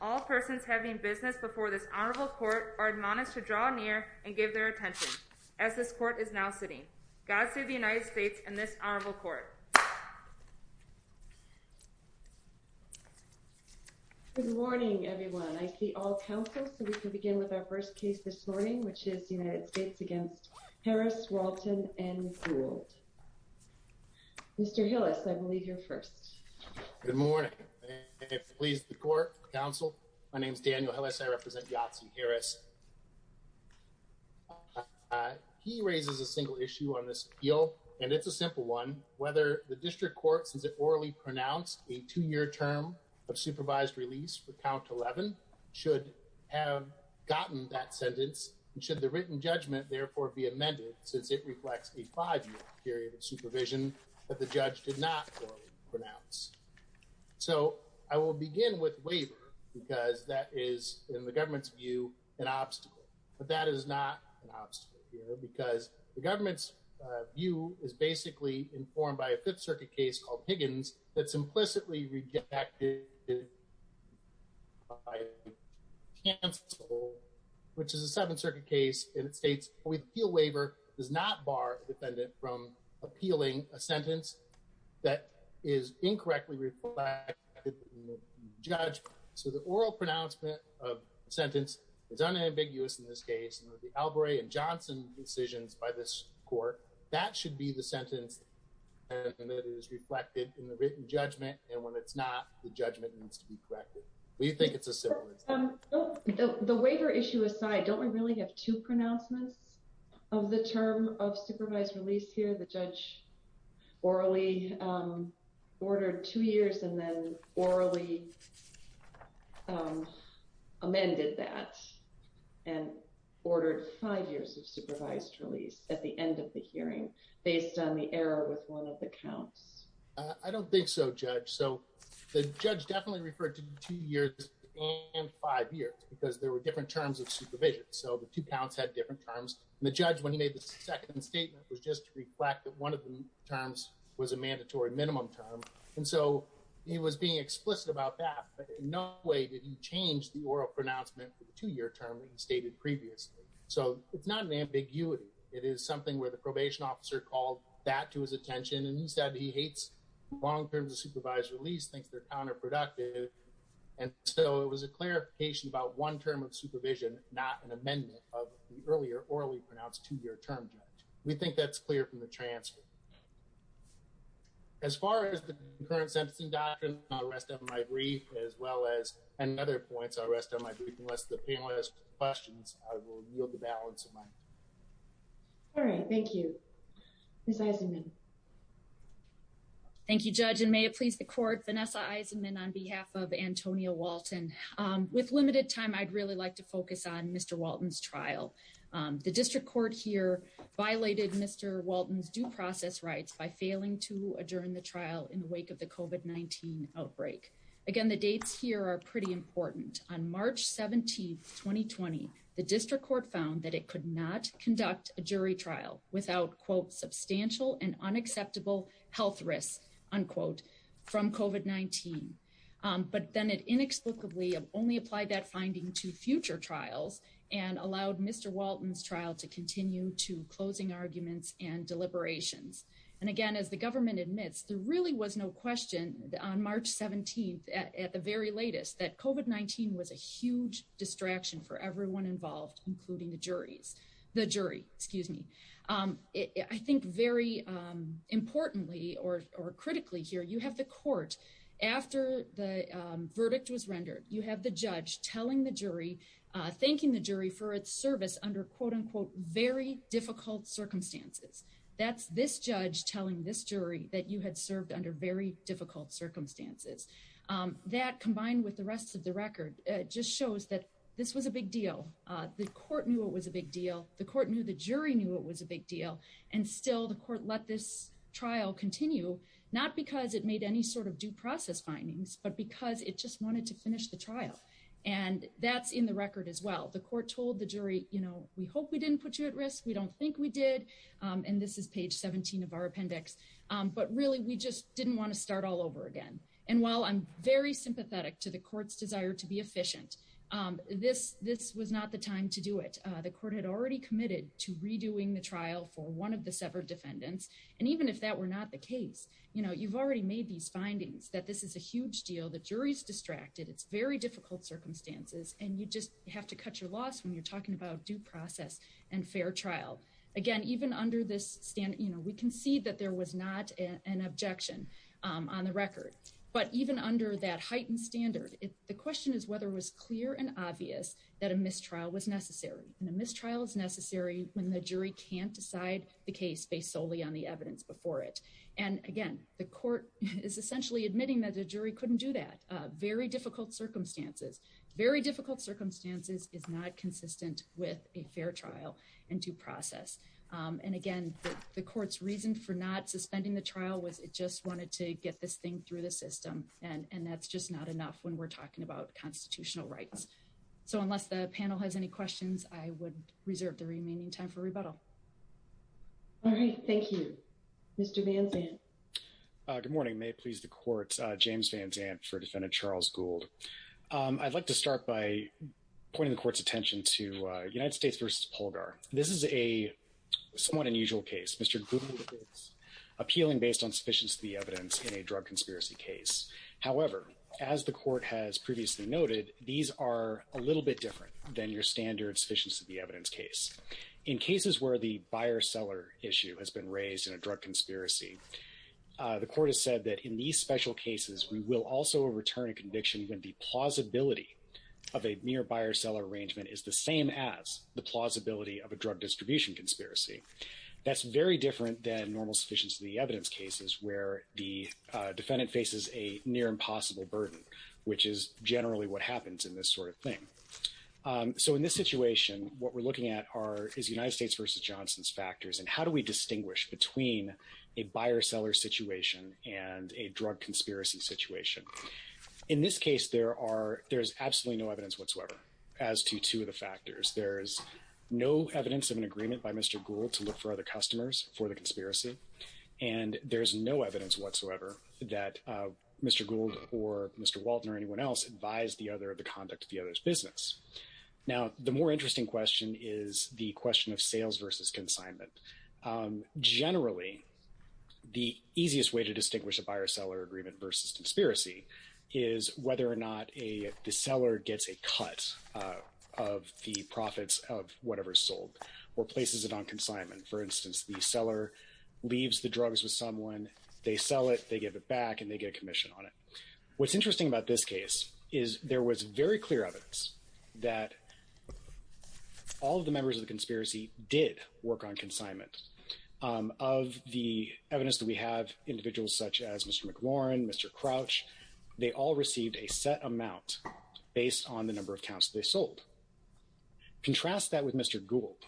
All persons having business before this honorable court are admonished to draw near and give their attention, as this court is now sitting. God save the United States and this honorable court. Good morning, everyone. I see all counsel. So we can begin with our first case this morning, which is the United States against Harris, Walton and Gould. Mr. Hillis, I believe you're first. Good morning. Please, the court, counsel. My name is Daniel Hillis. I represent Yahtzee Harris. He raises a single issue on this appeal, and it's a simple one, whether the district court, since it orally pronounced a two year term of supervised release for count 11 should have gotten that sentence, should the written judgment therefore be amended, since it reflects a five year period of supervision that the judge did not pronounce. So I will begin with waiver, because that is, in the government's view, an obstacle. But that is not an obstacle here, because the government's view is basically informed by a Fifth Circuit case called Higgins, that's implicitly rejected by counsel, which is a Seventh Circuit case, and it states, the appeal waiver does not bar the defendant from appealing a sentence that is incorrectly reflected in the written judgment. So the oral pronouncement of the sentence is unambiguous in this case, and with the Albury and Johnson decisions by this court, that should be the sentence that is reflected in the written judgment, and when it's not, the judgment needs to be corrected. We think it's a simple. The waiver issue aside, don't we really have two pronouncements of the term of supervised release here? The judge orally ordered two years and then orally amended that and ordered five years of supervised release at the end of the hearing, based on the error with one of the counts. I don't think so, Judge. So the judge definitely referred to two years and five years, because there were different terms of supervision. So the two counts had different terms. And the judge, when he made the second statement, was just to reflect that one of the terms was a mandatory minimum term. And so he was being explicit about that, but in no way did he change the oral pronouncement for the two-year term that he stated previously. So it's not an ambiguity. It is something where the probation officer called that to his attention, and he said he hates long terms of supervised release, thinks they're counterproductive. And so it was a clarification about one term of supervision, not an amendment of the earlier orally pronounced two-year term, Judge. We think that's clear from the transfer. As far as the current sentencing doctrine, I'll rest on my brief, as well as other points, I'll rest on my brief. Unless the panel has questions, I will yield the balance of my time. All right. Thank you. Ms. Eisenman. Thank you, Judge. And may it please the Court, Vanessa Eisenman on behalf of Antonio Walton. With limited time, I'd really like to focus on Mr. Walton's trial. The district court here violated Mr. Walton's due process rights by failing to adjourn the trial in the wake of the COVID-19 outbreak. Again, the dates here are pretty important. On March 17, 2020, the district court found that it could not conduct a jury trial without, quote, substantial and unacceptable health risks, unquote, from COVID-19. But then it inexplicably only applied that finding to future trials and allowed Mr. Walton's trial to continue to closing arguments and deliberations. And again, as the government admits, there really was no question on March 17th at the very latest that COVID-19 was a huge distraction for everyone involved, including the jury, excuse me. I think very importantly or critically here, you have the court, after the verdict was rendered, you have the judge telling the jury, thanking the jury for its service under, quote, unquote, very difficult circumstances. That's this judge telling this jury that you had served under very difficult circumstances. That, combined with the rest of the record, just shows that this was a big deal. The court knew it was a big deal. The court knew the jury knew it was a big deal. And still, the court let this trial continue, not because it made any sort of due process findings, but because it just wanted to finish the trial. And that's in the record as well. The court told the jury, you know, we hope we didn't put you at risk. We don't think we did. And this is page 17 of our appendix. But really, we just didn't want to start all over again. And while I'm very sympathetic to the court's desire to be efficient, this was not the time to do it. The court had already committed to redoing the trial for one of the severed defendants. And even if that were not the case, you know, you've already made these findings that this is a huge deal. The jury's distracted. It's very difficult circumstances. And you just have to cut your loss when you're talking about due process and fair trial. Again, even under this standard, you know, we can see that there was not an objection on the record. But even under that heightened standard, the question is whether it was clear and obvious that a mistrial was necessary. And a mistrial is necessary when the jury can't decide the case based solely on the evidence before it. And again, the court is essentially admitting that the jury couldn't do that. Very difficult circumstances. Very difficult circumstances is not consistent with a fair trial and due process. And again, the court's reason for not suspending the trial was it just wanted to get this thing through the system. And that's just not enough when we're talking about constitutional rights. So unless the panel has any questions, I would reserve the remaining time for rebuttal. All right, thank you, Mr. Van Zandt. Good morning, may it please the court. James Van Zandt for Defendant Charles Gould. I'd like to start by pointing the court's attention to United States v. Polgar. This is a somewhat unusual case. Mr. Gould is appealing based on sufficiency of the evidence in a drug conspiracy case. However, as the court has previously noted, these are a little bit different than your standard sufficiency of the evidence case. In cases where the buyer-seller issue has been raised in a drug conspiracy, the court has said that in these special cases, we will also return a conviction when the plausibility of a mere buyer-seller arrangement is the same as the plausibility of a drug distribution conspiracy. That's very different than normal sufficiency of the evidence cases where the defendant faces a near-impossible burden, which is generally what happens in this sort of thing. So in this situation, what we're looking at is United States v. Johnson's factors. And how do we distinguish between a buyer-seller situation and a drug conspiracy situation? In this case, there's absolutely no evidence whatsoever as to two of the factors. There's no evidence of an agreement by Mr. Gould to look for other customers for the conspiracy. And there's no evidence whatsoever that Mr. Gould or Mr. Walton or anyone else advised the other of the conduct of the other's business. Now, the more interesting question is the question of sales versus consignment. Generally, the easiest way to distinguish a buyer-seller agreement versus conspiracy is whether or not the seller gets a cut of the profits of whatever's sold or places it on consignment. For instance, the seller leaves the drugs with someone, they sell it, they give it back, and they get a commission on it. What's interesting about this case is there was very clear evidence that all of the members of the conspiracy did work on consignment. Of the evidence that we have, individuals such as Mr. McLaurin, Mr. Crouch, they all received a set amount based on the number of counts they sold. Contrast that with Mr. Gould.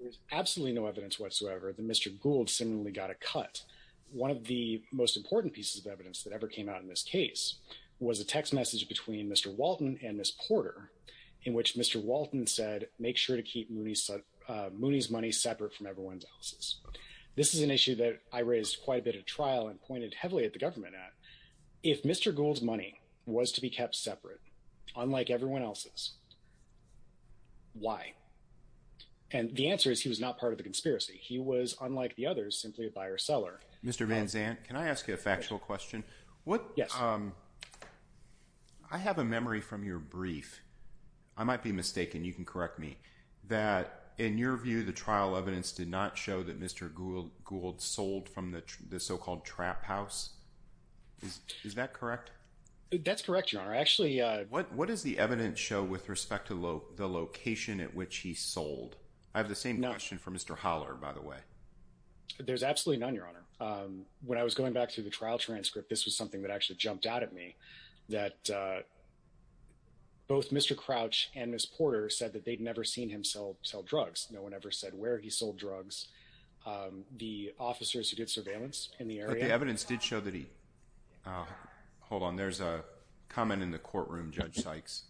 There's absolutely no evidence whatsoever that Mr. Gould seemingly got a cut. One of the most important pieces of evidence that ever came out in this case was a text message between Mr. Walton and This is an issue that I raised quite a bit at trial and pointed heavily at the government at. If Mr. Gould's money was to be kept separate, unlike everyone else's, why? And the answer is he was not part of the conspiracy. He was, unlike the others, simply a buyer-seller. Mr. Van Zandt, can I ask you a factual question? Yes. I have a memory from your brief, I might be mistaken, you can correct me, that in your view, the trial evidence did not show that Mr. Gould sold from the so-called trap house. Is that correct? That's correct, Your Honor. Actually, what does the evidence show with respect to the location at which he sold? I have the same question for Mr. Holler, by the way. There's absolutely none, Your Honor. When I was going back to the trial transcript, this was something that actually jumped out at me, that both Mr. Crouch and Ms. Porter said that they'd never seen him sell drugs. No one ever said where he sold drugs. The officers who did surveillance in the area... But the evidence did show that he... Hold on, there's a comment in the courtroom, Judge Sykes.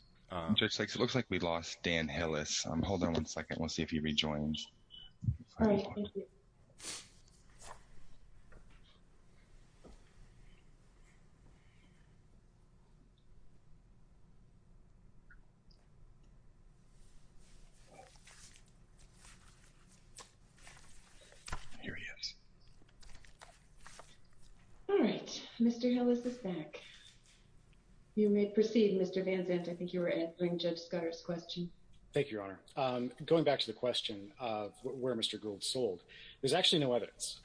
Judge Sykes, it looks like we lost Dan Hillis. Hold on one second. We'll see if he rejoins. All right, thank you. All right, Mr. Hillis is back. You may proceed, Mr. Van Zandt. I think you were answering Judge Scudder's question. Thank you, Your Honor. Going back to the question of where Mr. Gould sold, there's actually no evidence.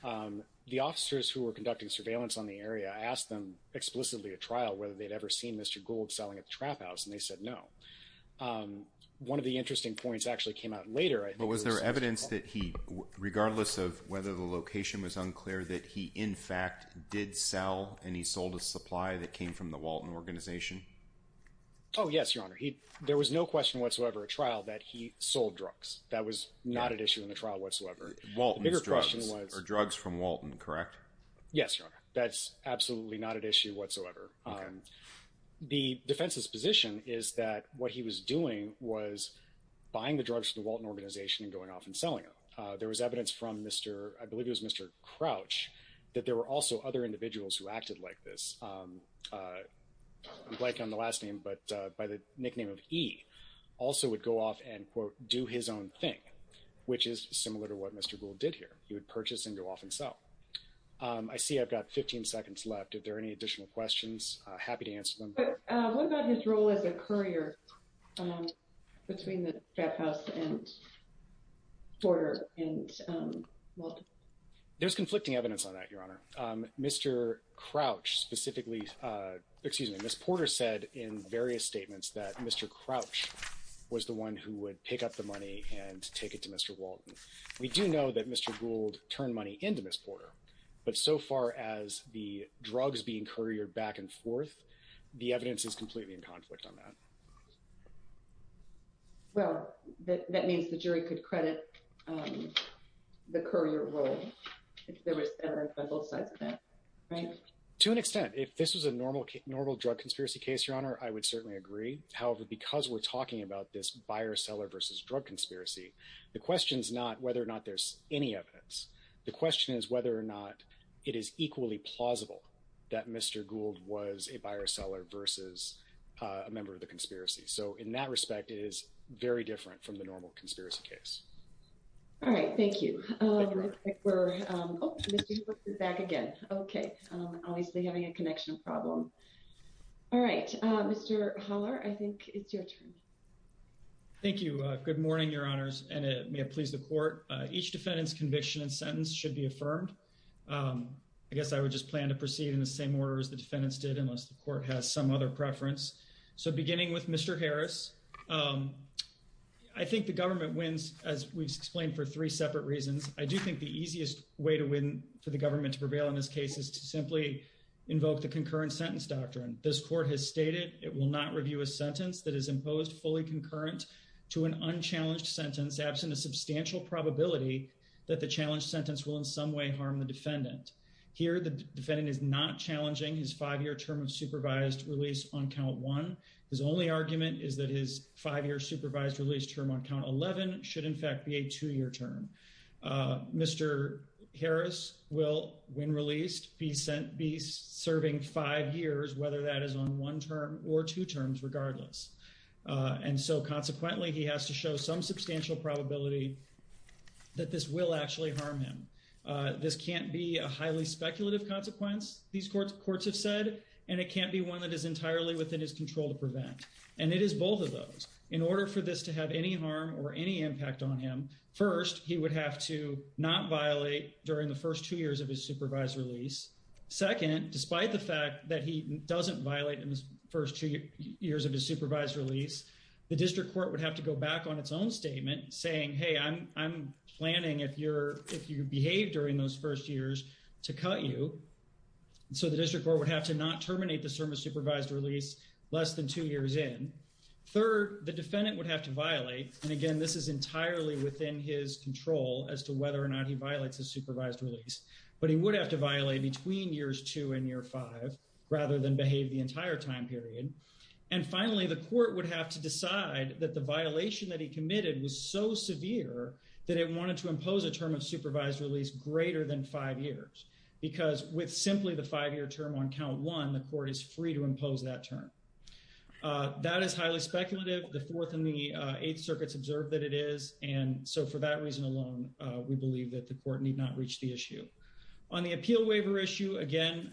The officers who were conducting surveillance on the area asked them explicitly at trial whether they'd ever seen Mr. Gould selling at the trap house, and they said no. One of the interesting points actually came out later, I think... But was there evidence that he, regardless of whether the location was unclear, that he, in fact, did sell and he sold a supply that came from the Walton organization? Oh, yes, Your Honor. There was no question whatsoever at trial that he sold drugs. That was not at issue in the trial whatsoever. Walton's drugs are drugs from Walton, correct? Yes, Your Honor. That's absolutely not at issue whatsoever. Okay. The defense's position is that what he was doing was buying the drugs from the Walton organization and going off and selling them. There was evidence from Mr., I believe it was Mr. Crouch, that there were also other individuals who acted like this, like on the last name, but by the nickname of E, also would go off and, quote, do his own thing, which is similar to what Mr. Gould did here. He would purchase and go off and sell. I see I've got 15 seconds left. If there are any additional questions, I'm happy to answer them. But what about his role as a courier between the Jeff House and Porter and Walton? There's conflicting evidence on that, Your Honor. Mr. Crouch specifically, excuse me, Ms. Porter said in various statements that Mr. Crouch was the one who would pick up the money and take it to Mr. Walton. We do know that Mr. Gould turned money into Ms. Porter, but so far as the drugs being couriered back and forth, the evidence is completely in conflict on that. Well, that means the jury could credit the courier role, if there was evidence on both sides of that, right? To an extent. If this was a normal drug conspiracy case, Your Honor, I would certainly agree. However, because we're talking about this buyer-seller versus drug conspiracy, the question is not whether or not there's any evidence. The question is whether or not it is equally plausible that Mr. Gould was a buyer-seller versus a member of the conspiracy. So in that respect, it is very different from the normal conspiracy case. All right. Thank you. Thank you, Your Honor. I think we're... Oh, Mr. Hook is back again. Okay. Obviously having a connection problem. All right. Mr. Holler, I think it's your turn. Thank you. Good morning, Your Honors, and may it please the Court. Each defendant's conviction and sentence should be affirmed. I guess I would just plan to proceed in the same order as the defendants did, unless the Court has some other preference. So beginning with Mr. Harris, I think the government wins, as we've explained, for three separate reasons. I do think the easiest way to win for the government to prevail in this case is to simply invoke the concurrent sentence doctrine. This Court has stated it will not review a sentence that is imposed fully concurrent to an unchallenged sentence, absent a substantial probability that the challenged sentence will in some way harm the defendant. Here, the defendant is not challenging his five-year term of supervised release on count one. His only argument is that his five-year supervised release term on count 11 should in fact be a two-year term. Mr. Harris will, when released, be serving five years, whether that is on one term or two terms regardless. And so consequently, he has to show some substantial probability that this will actually harm him. This can't be a highly speculative consequence, these courts have said, and it can't be one that is entirely within his control to prevent. And it is both of those. In order for this to have any harm or any impact on him, first, he would have to not violate during the first two years of his supervised release. Second, despite the fact that he doesn't violate first two years of his supervised release, the district court would have to go back on its own statement saying, hey, I'm planning if you behave during those first years to cut you. So the district court would have to not terminate the term of supervised release less than two years in. Third, the defendant would have to violate, and again, this is entirely within his control as to whether or not he violates his supervised release. But he would have to violate between years two and year five rather than behave the entire time period. And finally, the court would have to decide that the violation that he committed was so severe that it wanted to impose a term of supervised release greater than five years. Because with simply the five-year term on count one, the court is free to impose that term. That is highly speculative. The Fourth and the Eighth Circuits observed that it is. we believe that the court need not reach the issue. On the appeal waiver issue, again,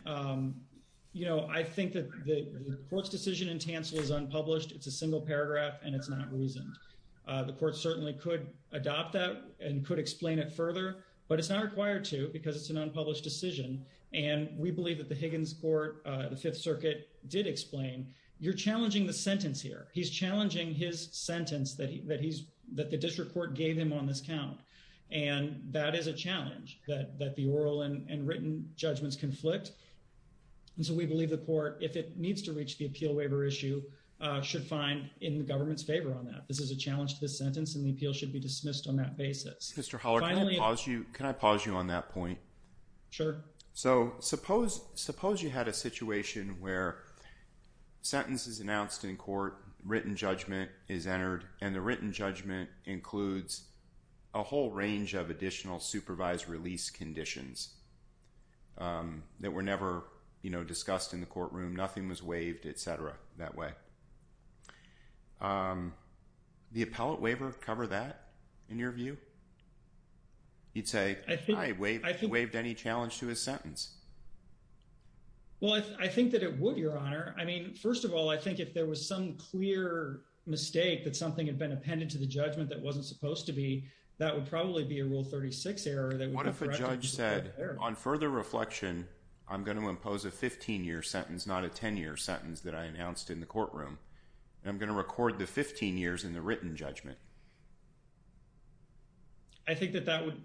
you know, I think that the court's decision in Tansel is unpublished. It's a single paragraph and it's not reasoned. The court certainly could adopt that and could explain it further, but it's not required to because it's an unpublished decision. And we believe that the Higgins Court, the Fifth Circuit did explain, you're challenging the sentence here. He's challenging his sentence that he's, that the district court gave him on this count. And that is a challenge that the oral and written judgments conflict. And so we believe the court, if it needs to reach the appeal waiver issue, should find in the government's favor on that. This is a challenge to the sentence and the appeal should be dismissed on that basis. Mr. Holler, can I pause you on that point? Sure. So suppose you had a situation where sentence is announced in court, written judgment is entered, and the written judgment includes a whole range of additional supervised release conditions that were never, you know, discussed in the courtroom. Nothing was waived, et cetera, that way. The appellate waiver cover that in your view? He'd say, I waived any challenge to his sentence. Well, I think that it would, Your Honor. I mean, first of all, I think if there was some clear mistake that something had been appended to the judgment that wasn't supposed to be, that would probably be a Rule 36 error. What if a judge said, on further reflection, I'm going to impose a 15-year sentence, not a 10-year sentence, that I announced in the courtroom. I'm going to record the 15 years in the written judgment. I think that that would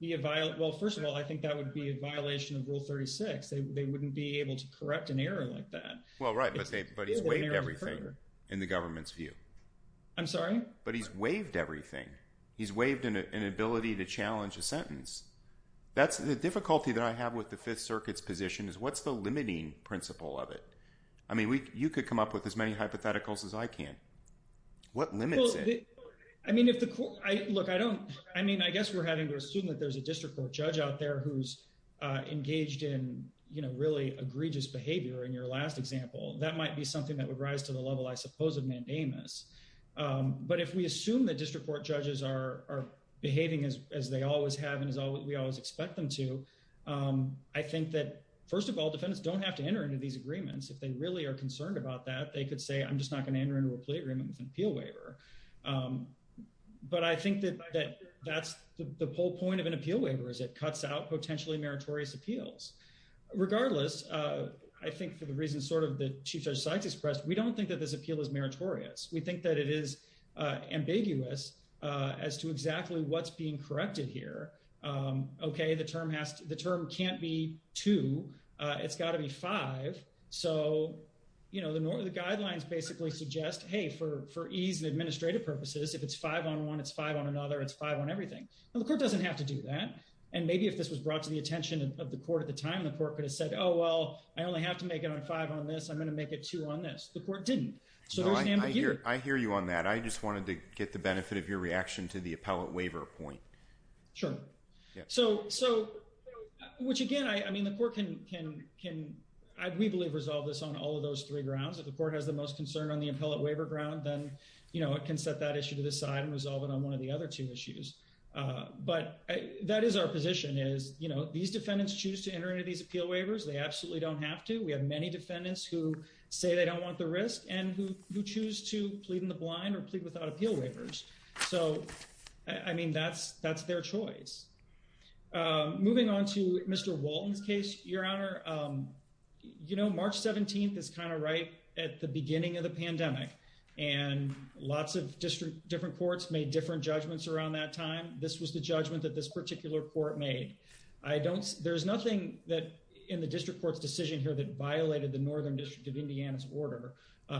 be a violation. Well, first of all, I think that would be a violation of Rule 36. They wouldn't be able to correct an error like that. Right, but he's waived everything in the government's view. I'm sorry? But he's waived everything. He's waived an ability to challenge a sentence. The difficulty that I have with the Fifth Circuit's position is, what's the limiting principle of it? I mean, you could come up with as many hypotheticals as I can. What limits it? I mean, I guess we're having to assume that there's a district court judge out there who's in your last example. That might be something that would rise to the level, I suppose, of mandamus. But if we assume that district court judges are behaving as they always have and as we always expect them to, I think that, first of all, defendants don't have to enter into these agreements. If they really are concerned about that, they could say, I'm just not going to enter into a plea agreement with an appeal waiver. But I think that that's the whole point of an appeal waiver is it cuts out potentially meritorious appeals. Regardless, I think for the reasons sort of that Chief Judge Sykes expressed, we don't think that this appeal is meritorious. We think that it is ambiguous as to exactly what's being corrected here. OK, the term can't be two. It's got to be five. So the guidelines basically suggest, hey, for ease and administrative purposes, if it's five on one, it's five on another. It's five on everything. Well, the court doesn't have to do that. And maybe if this was brought to the attention of the court at the time, the court could have said, oh, well, I only have to make it on five on this. I'm going to make it two on this. The court didn't. So there's an ambiguity. I hear you on that. I just wanted to get the benefit of your reaction to the appellate waiver point. Sure. So which, again, I mean, the court can, we believe, resolve this on all of those three grounds. If the court has the most concern on the appellate waiver ground, then it can set that issue to the side and resolve it on one of the other two issues. But that is our position is, you know, these defendants choose to enter into these appeal waivers. They absolutely don't have to. We have many defendants who say they don't want the risk and who choose to plead in the blind or plead without appeal waivers. So, I mean, that's their choice. Moving on to Mr. Walton's case, Your Honor, you know, March 17th is kind of right at the beginning of the pandemic. And lots of different courts made different judgments around that time. This was the judgment that this particular court made. I don't, there's nothing that in the district court's decision here that violated the Northern District of Indiana's order,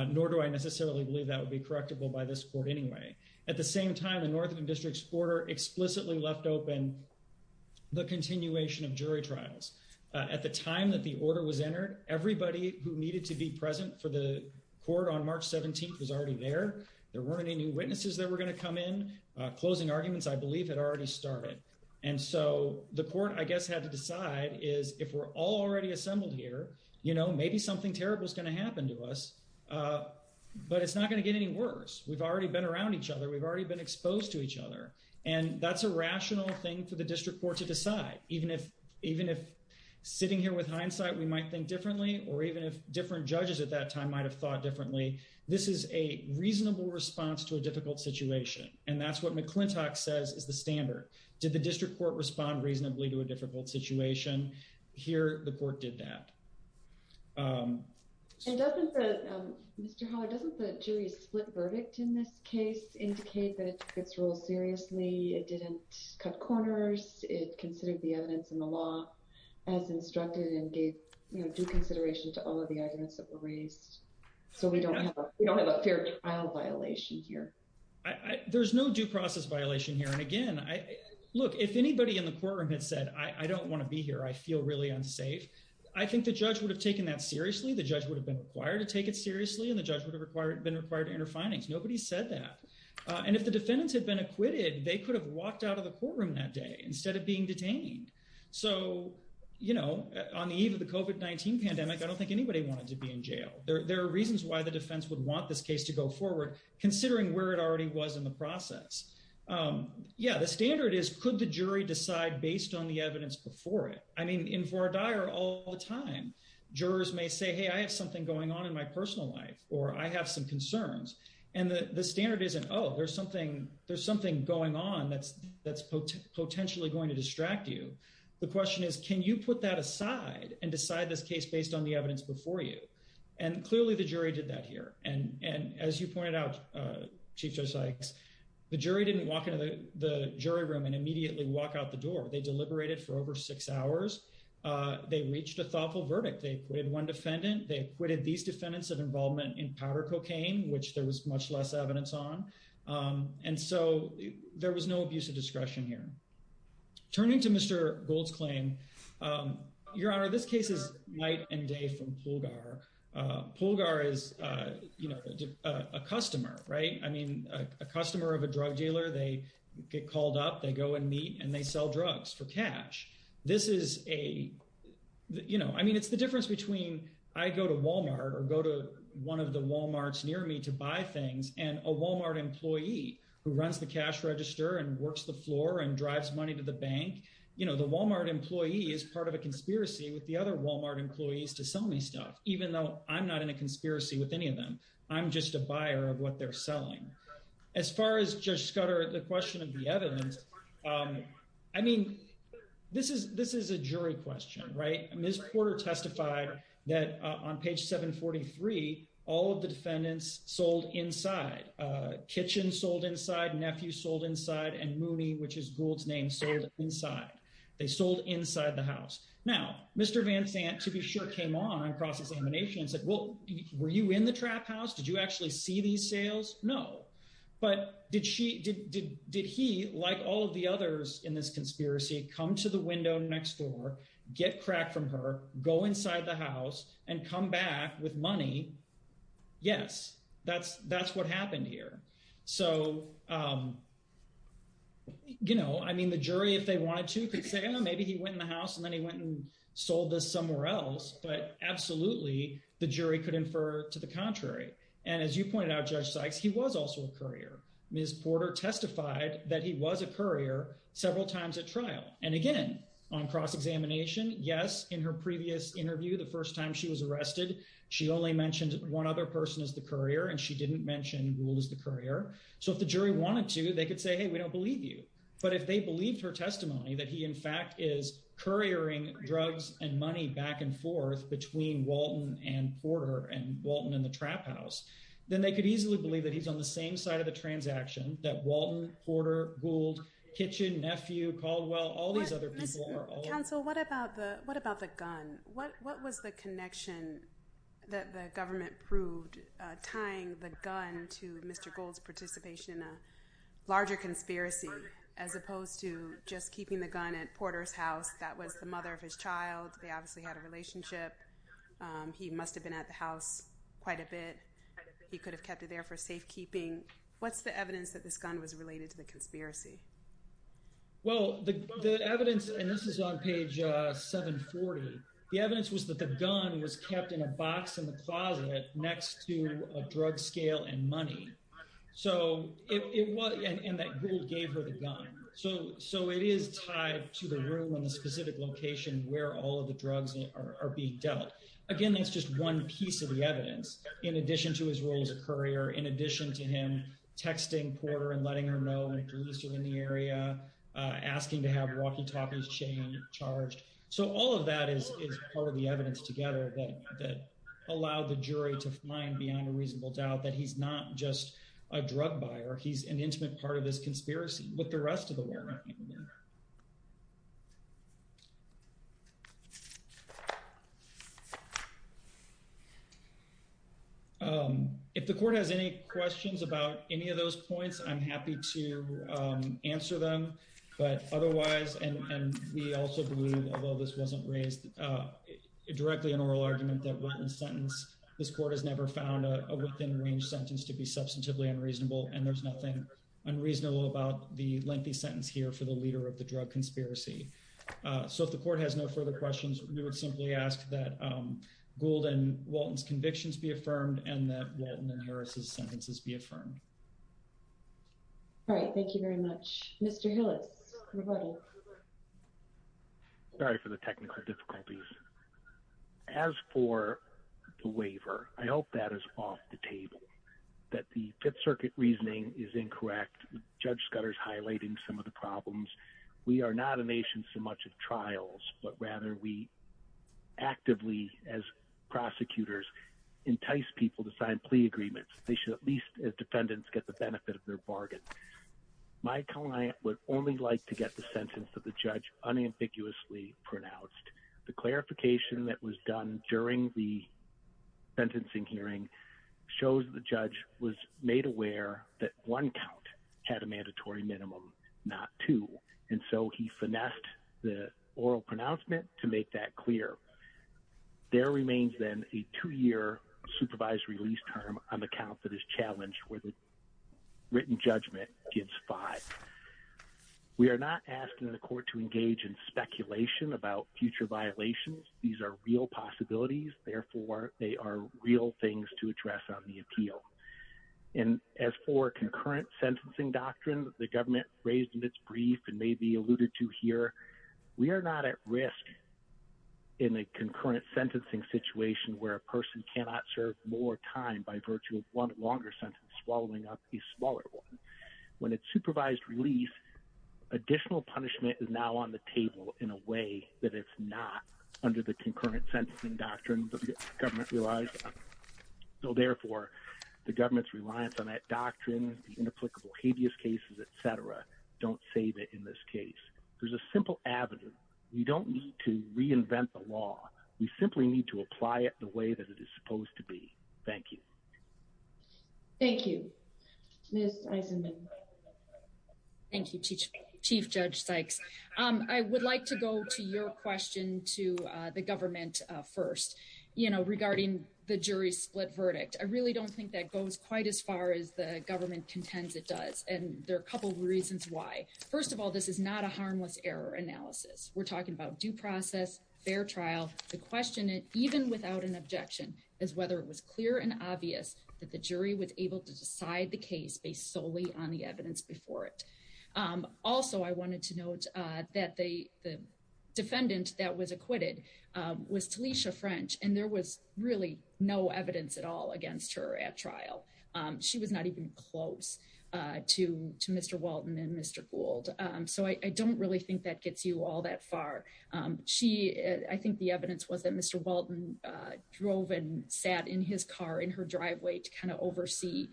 nor do I necessarily believe that would be correctable by this court anyway. At the same time, the Northern District's order explicitly left open the continuation of jury trials. At the time that the order was entered, everybody who needed to be present for the court on March 17th was already there. There weren't any witnesses that were going to come in. Closing arguments, I believe, had already started. And so the court, I guess, had to decide is if we're all already assembled here, you know, maybe something terrible is going to happen to us. But it's not going to get any worse. We've already been around each other. We've already been exposed to each other. And that's a rational thing for the district court to decide. Even if sitting here with hindsight, we might think differently, or even if different judges at that time might have thought differently, this is a reasonable response to a difficult situation. And that's what McClintock says is the standard. Did the district court respond reasonably to a difficult situation? Here, the court did that. And doesn't the, Mr. Hall, doesn't the jury's split verdict in this case indicate that it took its role seriously? It didn't cut corners. It considered the evidence in the law as instructed and gave due consideration to all of the arguments that were raised. So we don't have a fair trial violation here. There's no due process violation here. And again, look, if anybody in the courtroom had said, I don't want to be here, I feel really unsafe, I think the judge would have taken that seriously. The judge would have been required to take it seriously. And the judge would have been required to enter findings. Nobody said that. And if the defendants had been acquitted, they could have walked out of the courtroom that day. Instead of being detained. So, you know, on the eve of the COVID-19 pandemic, I don't think anybody wanted to be in jail. There are reasons why the defense would want this case to go forward, considering where it already was in the process. Yeah, the standard is could the jury decide based on the evidence before it? I mean, in for a dire all the time, jurors may say, hey, I have something going on in my personal life, or I have some concerns. And the standard isn't, oh, there's something going on that's potentially going to distract you. The question is, can you put that aside and decide this case based on the evidence before you? And clearly the jury did that here. And as you pointed out, Chief Judge Sykes, the jury didn't walk into the jury room and immediately walk out the door. They deliberated for over six hours. They reached a thoughtful verdict. They acquitted one defendant. They acquitted these defendants of involvement in powder cocaine, which there was much less evidence on. And so there was no abuse of discretion here. Turning to Mr. Gold's claim, Your Honor, this case is night and day from Pulgar. Pulgar is, you know, a customer, right? I mean, a customer of a drug dealer, they get called up, they go and meet and they sell drugs for cash. This is a, you know, I mean, it's the difference between I go to Walmart or go to one of the Walmarts near me to buy things and a Walmart employee who runs the cash register and works the floor and drives money to the bank. You know, the Walmart employee is part of a conspiracy with the other Walmart employees to sell me stuff, even though I'm not in a conspiracy with any of them. I'm just a buyer of what they're selling. As far as Judge Scudder, the question of the evidence, I mean, this is a jury question, right? Ms. Porter testified that on page 743, all of the defendants sold inside. Kitchen sold inside, nephew sold inside, and Mooney, which is Gould's name, sold inside. They sold inside the house. Now, Mr. Van Sant, to be sure, came on across his emanation and said, well, were you in the trap house? Did you actually see these sales? No, but did she, did he, like all of the others in this conspiracy, come to the window next door, get crack from her, go inside the house, and come back with money? Yes, that's what happened here. So, you know, I mean, the jury, if they wanted to, could say, oh, maybe he went in the house, and then he went and sold this somewhere else. But absolutely, the jury could infer to the contrary. And as you pointed out, Judge Sykes, he was also a courier. Ms. Porter testified that he was a courier several times at trial. And again, on cross-examination, yes, in her previous interview, the first time she was arrested, she only mentioned one other person as the courier, and she didn't mention Gould as the courier. So if the jury wanted to, they could say, hey, we don't believe you. But if they believed her testimony, that he, in fact, is couriering drugs and money back and forth between Walton and Porter, and Walton in the trap house, then they could easily believe that he's on the same side of the transaction that Walton, Porter, Gould, Kitchin, Nephew, Caldwell, all these other people are on. Counsel, what about the gun? What was the connection that the government proved tying the gun to Mr. Gould's participation in a larger conspiracy as opposed to just keeping the gun at Porter's house? That was the mother of his child. They obviously had a relationship. He must have been at the house quite a bit. He could have kept it there for safekeeping. What's the evidence that this gun was related to the conspiracy? Well, the evidence, and this is on page 740, the evidence was that the gun was kept in a box in the closet next to a drug scale and money. So it was, and that Gould gave her the gun. So it is tied to the room in the specific location where all of the drugs are being dealt. Again, that's just one piece of the evidence. In addition to his role as a courier, in addition to him texting Porter and letting her know when police are in the area, asking to have walkie-talkies chained, charged. So all of that is part of the evidence together that allowed the jury to find beyond a reasonable doubt that he's not just a drug buyer. He's an intimate part of this conspiracy with the rest of the Walnut family. If the court has any questions about any of those points, I'm happy to answer them. But otherwise, and we also believe, although this wasn't raised directly in oral argument, that Walton's sentence, this court has never found a within range sentence to be substantively unreasonable. And there's nothing unreasonable about the lengthy sentence here for the leader of the drug conspiracy. So if the court has no further questions, we would simply ask that Gould and Walton's convictions be affirmed and that Walton and Harris's sentences be affirmed. All right. Thank you very much. Mr. Hillis. Sorry for the technical difficulties. As for the waiver, I hope that is off the table, that the Fifth Circuit reasoning is incorrect. Judge Scudder's highlighting some of the problems. We are not a nation so much of trials, but rather we actively, as prosecutors, entice people to sign plea agreements. They should at least as defendants get the benefit of their bargain. My client would only like to get the sentence of the judge unambiguously pronounced. The clarification that was done during the sentencing hearing shows the judge was made aware that one count had a mandatory minimum, not two. And so he finessed the oral pronouncement to make that clear. There remains then a two-year supervised release term on the count that is challenged where the written judgment gives five. We are not asking the court to engage in speculation about future violations. These are real possibilities. Therefore, they are real things to address on the appeal. And as for concurrent sentencing doctrine the government raised in its brief and may be alluded to here, we are not at risk in a concurrent sentencing situation where a person cannot serve more time by virtue of one longer sentence swallowing up a smaller one. When it's supervised release, additional punishment is now on the table in a way that it's not under the concurrent sentencing doctrine that the government realized. So therefore, the government's reliance on that doctrine, the inapplicable habeas cases, et cetera, don't save it in this case. There's a simple avenue. We don't need to reinvent the law. We simply need to apply it the way that it is supposed to be. Thank you. Thank you. Ms. Eisenman. Thank you, Chief Judge Sykes. I would like to go to your question to the government first, you know, regarding the jury split verdict. I really don't think that goes quite as far as the government contends it does. And there are a couple of reasons why. First of all, this is not a harmless error analysis. We're talking about due process, fair trial. The question, even without an objection, is whether it was clear and obvious that the jury was able to decide the case based solely on the evidence before it. Also, I wanted to note that the defendant that was acquitted was Talisha French, and there was really no evidence at all against her at trial. She was not even close to Mr. Walton and Mr. Gould. So I don't really think that gets you all that far. I think the evidence was that Mr. Walton drove and sat in his car in her driveway to kind of oversee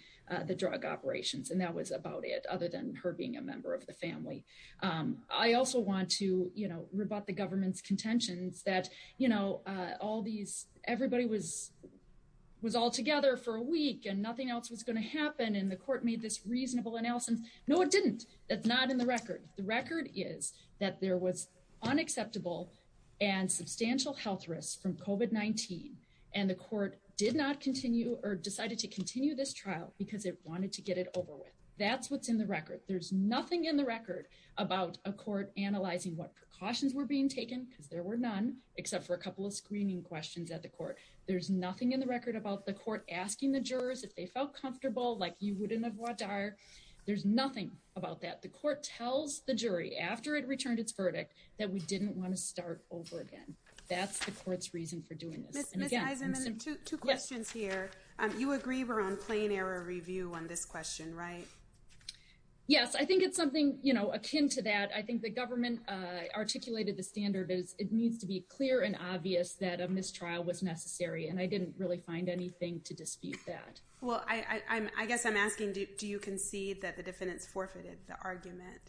the drug operations. And that was about it, other than her being a member of the family. I also want to, you know, rebut the government's contentions that, you know, all these, everybody was all together for a week and nothing else was going to happen. And the court made this reasonable analysis. No, it didn't. That's not in the record. The record is that there was unacceptable and substantial health risks from COVID-19. And the court did not continue or decided to continue this trial because it wanted to get it over with. That's what's in the record. There's nothing in the record about a court analyzing what precautions were being taken, because there were none, except for a couple of screening questions at the court. There's nothing in the record about the court asking the jurors if they felt comfortable, like you wouldn't have WADAR. There's nothing about that. The court tells the jury after it returned its verdict that we didn't want to start over again. That's the court's reason for doing this. And again, Ms. Eisenman, two questions here. You agree we're on plain error review on this question, right? Yes, I think it's something, you know, akin to that. I think the government articulated the standard as it needs to be clear and obvious that a mistrial was necessary. And I didn't really find anything to dispute that. Well, I guess I'm asking, do you concede that the defendants forfeited the argument?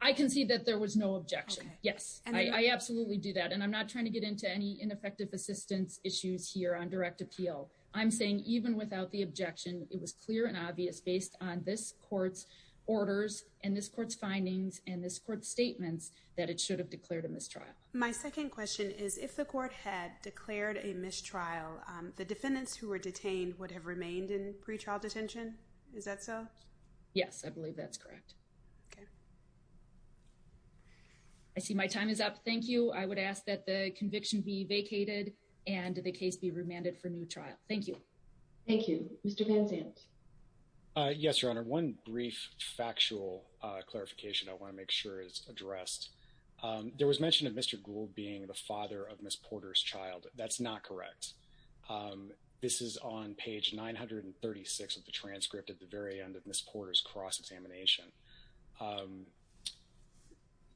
I concede that there was no objection. Yes, I absolutely do that. And I'm not trying to get into any ineffective assistance issues here on direct appeal. I'm saying even without the objection, it was clear and obvious based on this court's orders and this court's findings and this court's statements that it should have declared a mistrial. My second question is if the court had declared a mistrial, the defendants who were detained would have remained in pretrial detention? Is that so? Yes, I believe that's correct. Okay. I see my time is up. Thank you. I would ask that the conviction be vacated and the case be remanded for new trial. Thank you. Thank you. Mr. Van Zandt. Yes, Your Honor. One brief factual clarification I want to make sure is addressed. There was mention of Mr. Gould being the father of Ms. Porter's child. That's not correct. This is on page 936 of the transcript. At the very end of Ms. Porter's cross-examination.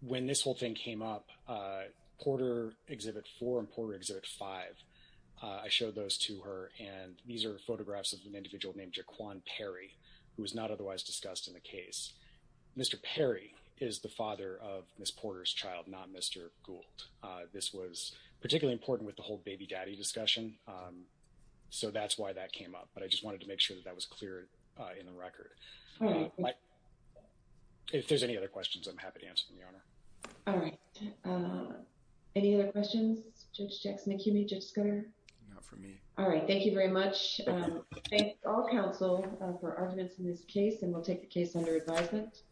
When this whole thing came up, Porter Exhibit 4 and Porter Exhibit 5, I showed those to her and these are photographs of an individual named Jaquan Perry, who was not otherwise discussed in the case. Mr. Perry is the father of Ms. Porter's child, not Mr. Gould. This was particularly important with the whole baby-daddy discussion. So that's why that came up. But I just wanted to make sure that was clear in the record. If there's any other questions, I'm happy to answer them, Your Honor. All right. Any other questions? Judge Jackson, Acuity? Judge Scudder? Not for me. All right. Thank you very much. Thank all counsel for arguments in this case and we'll take the case under advisement.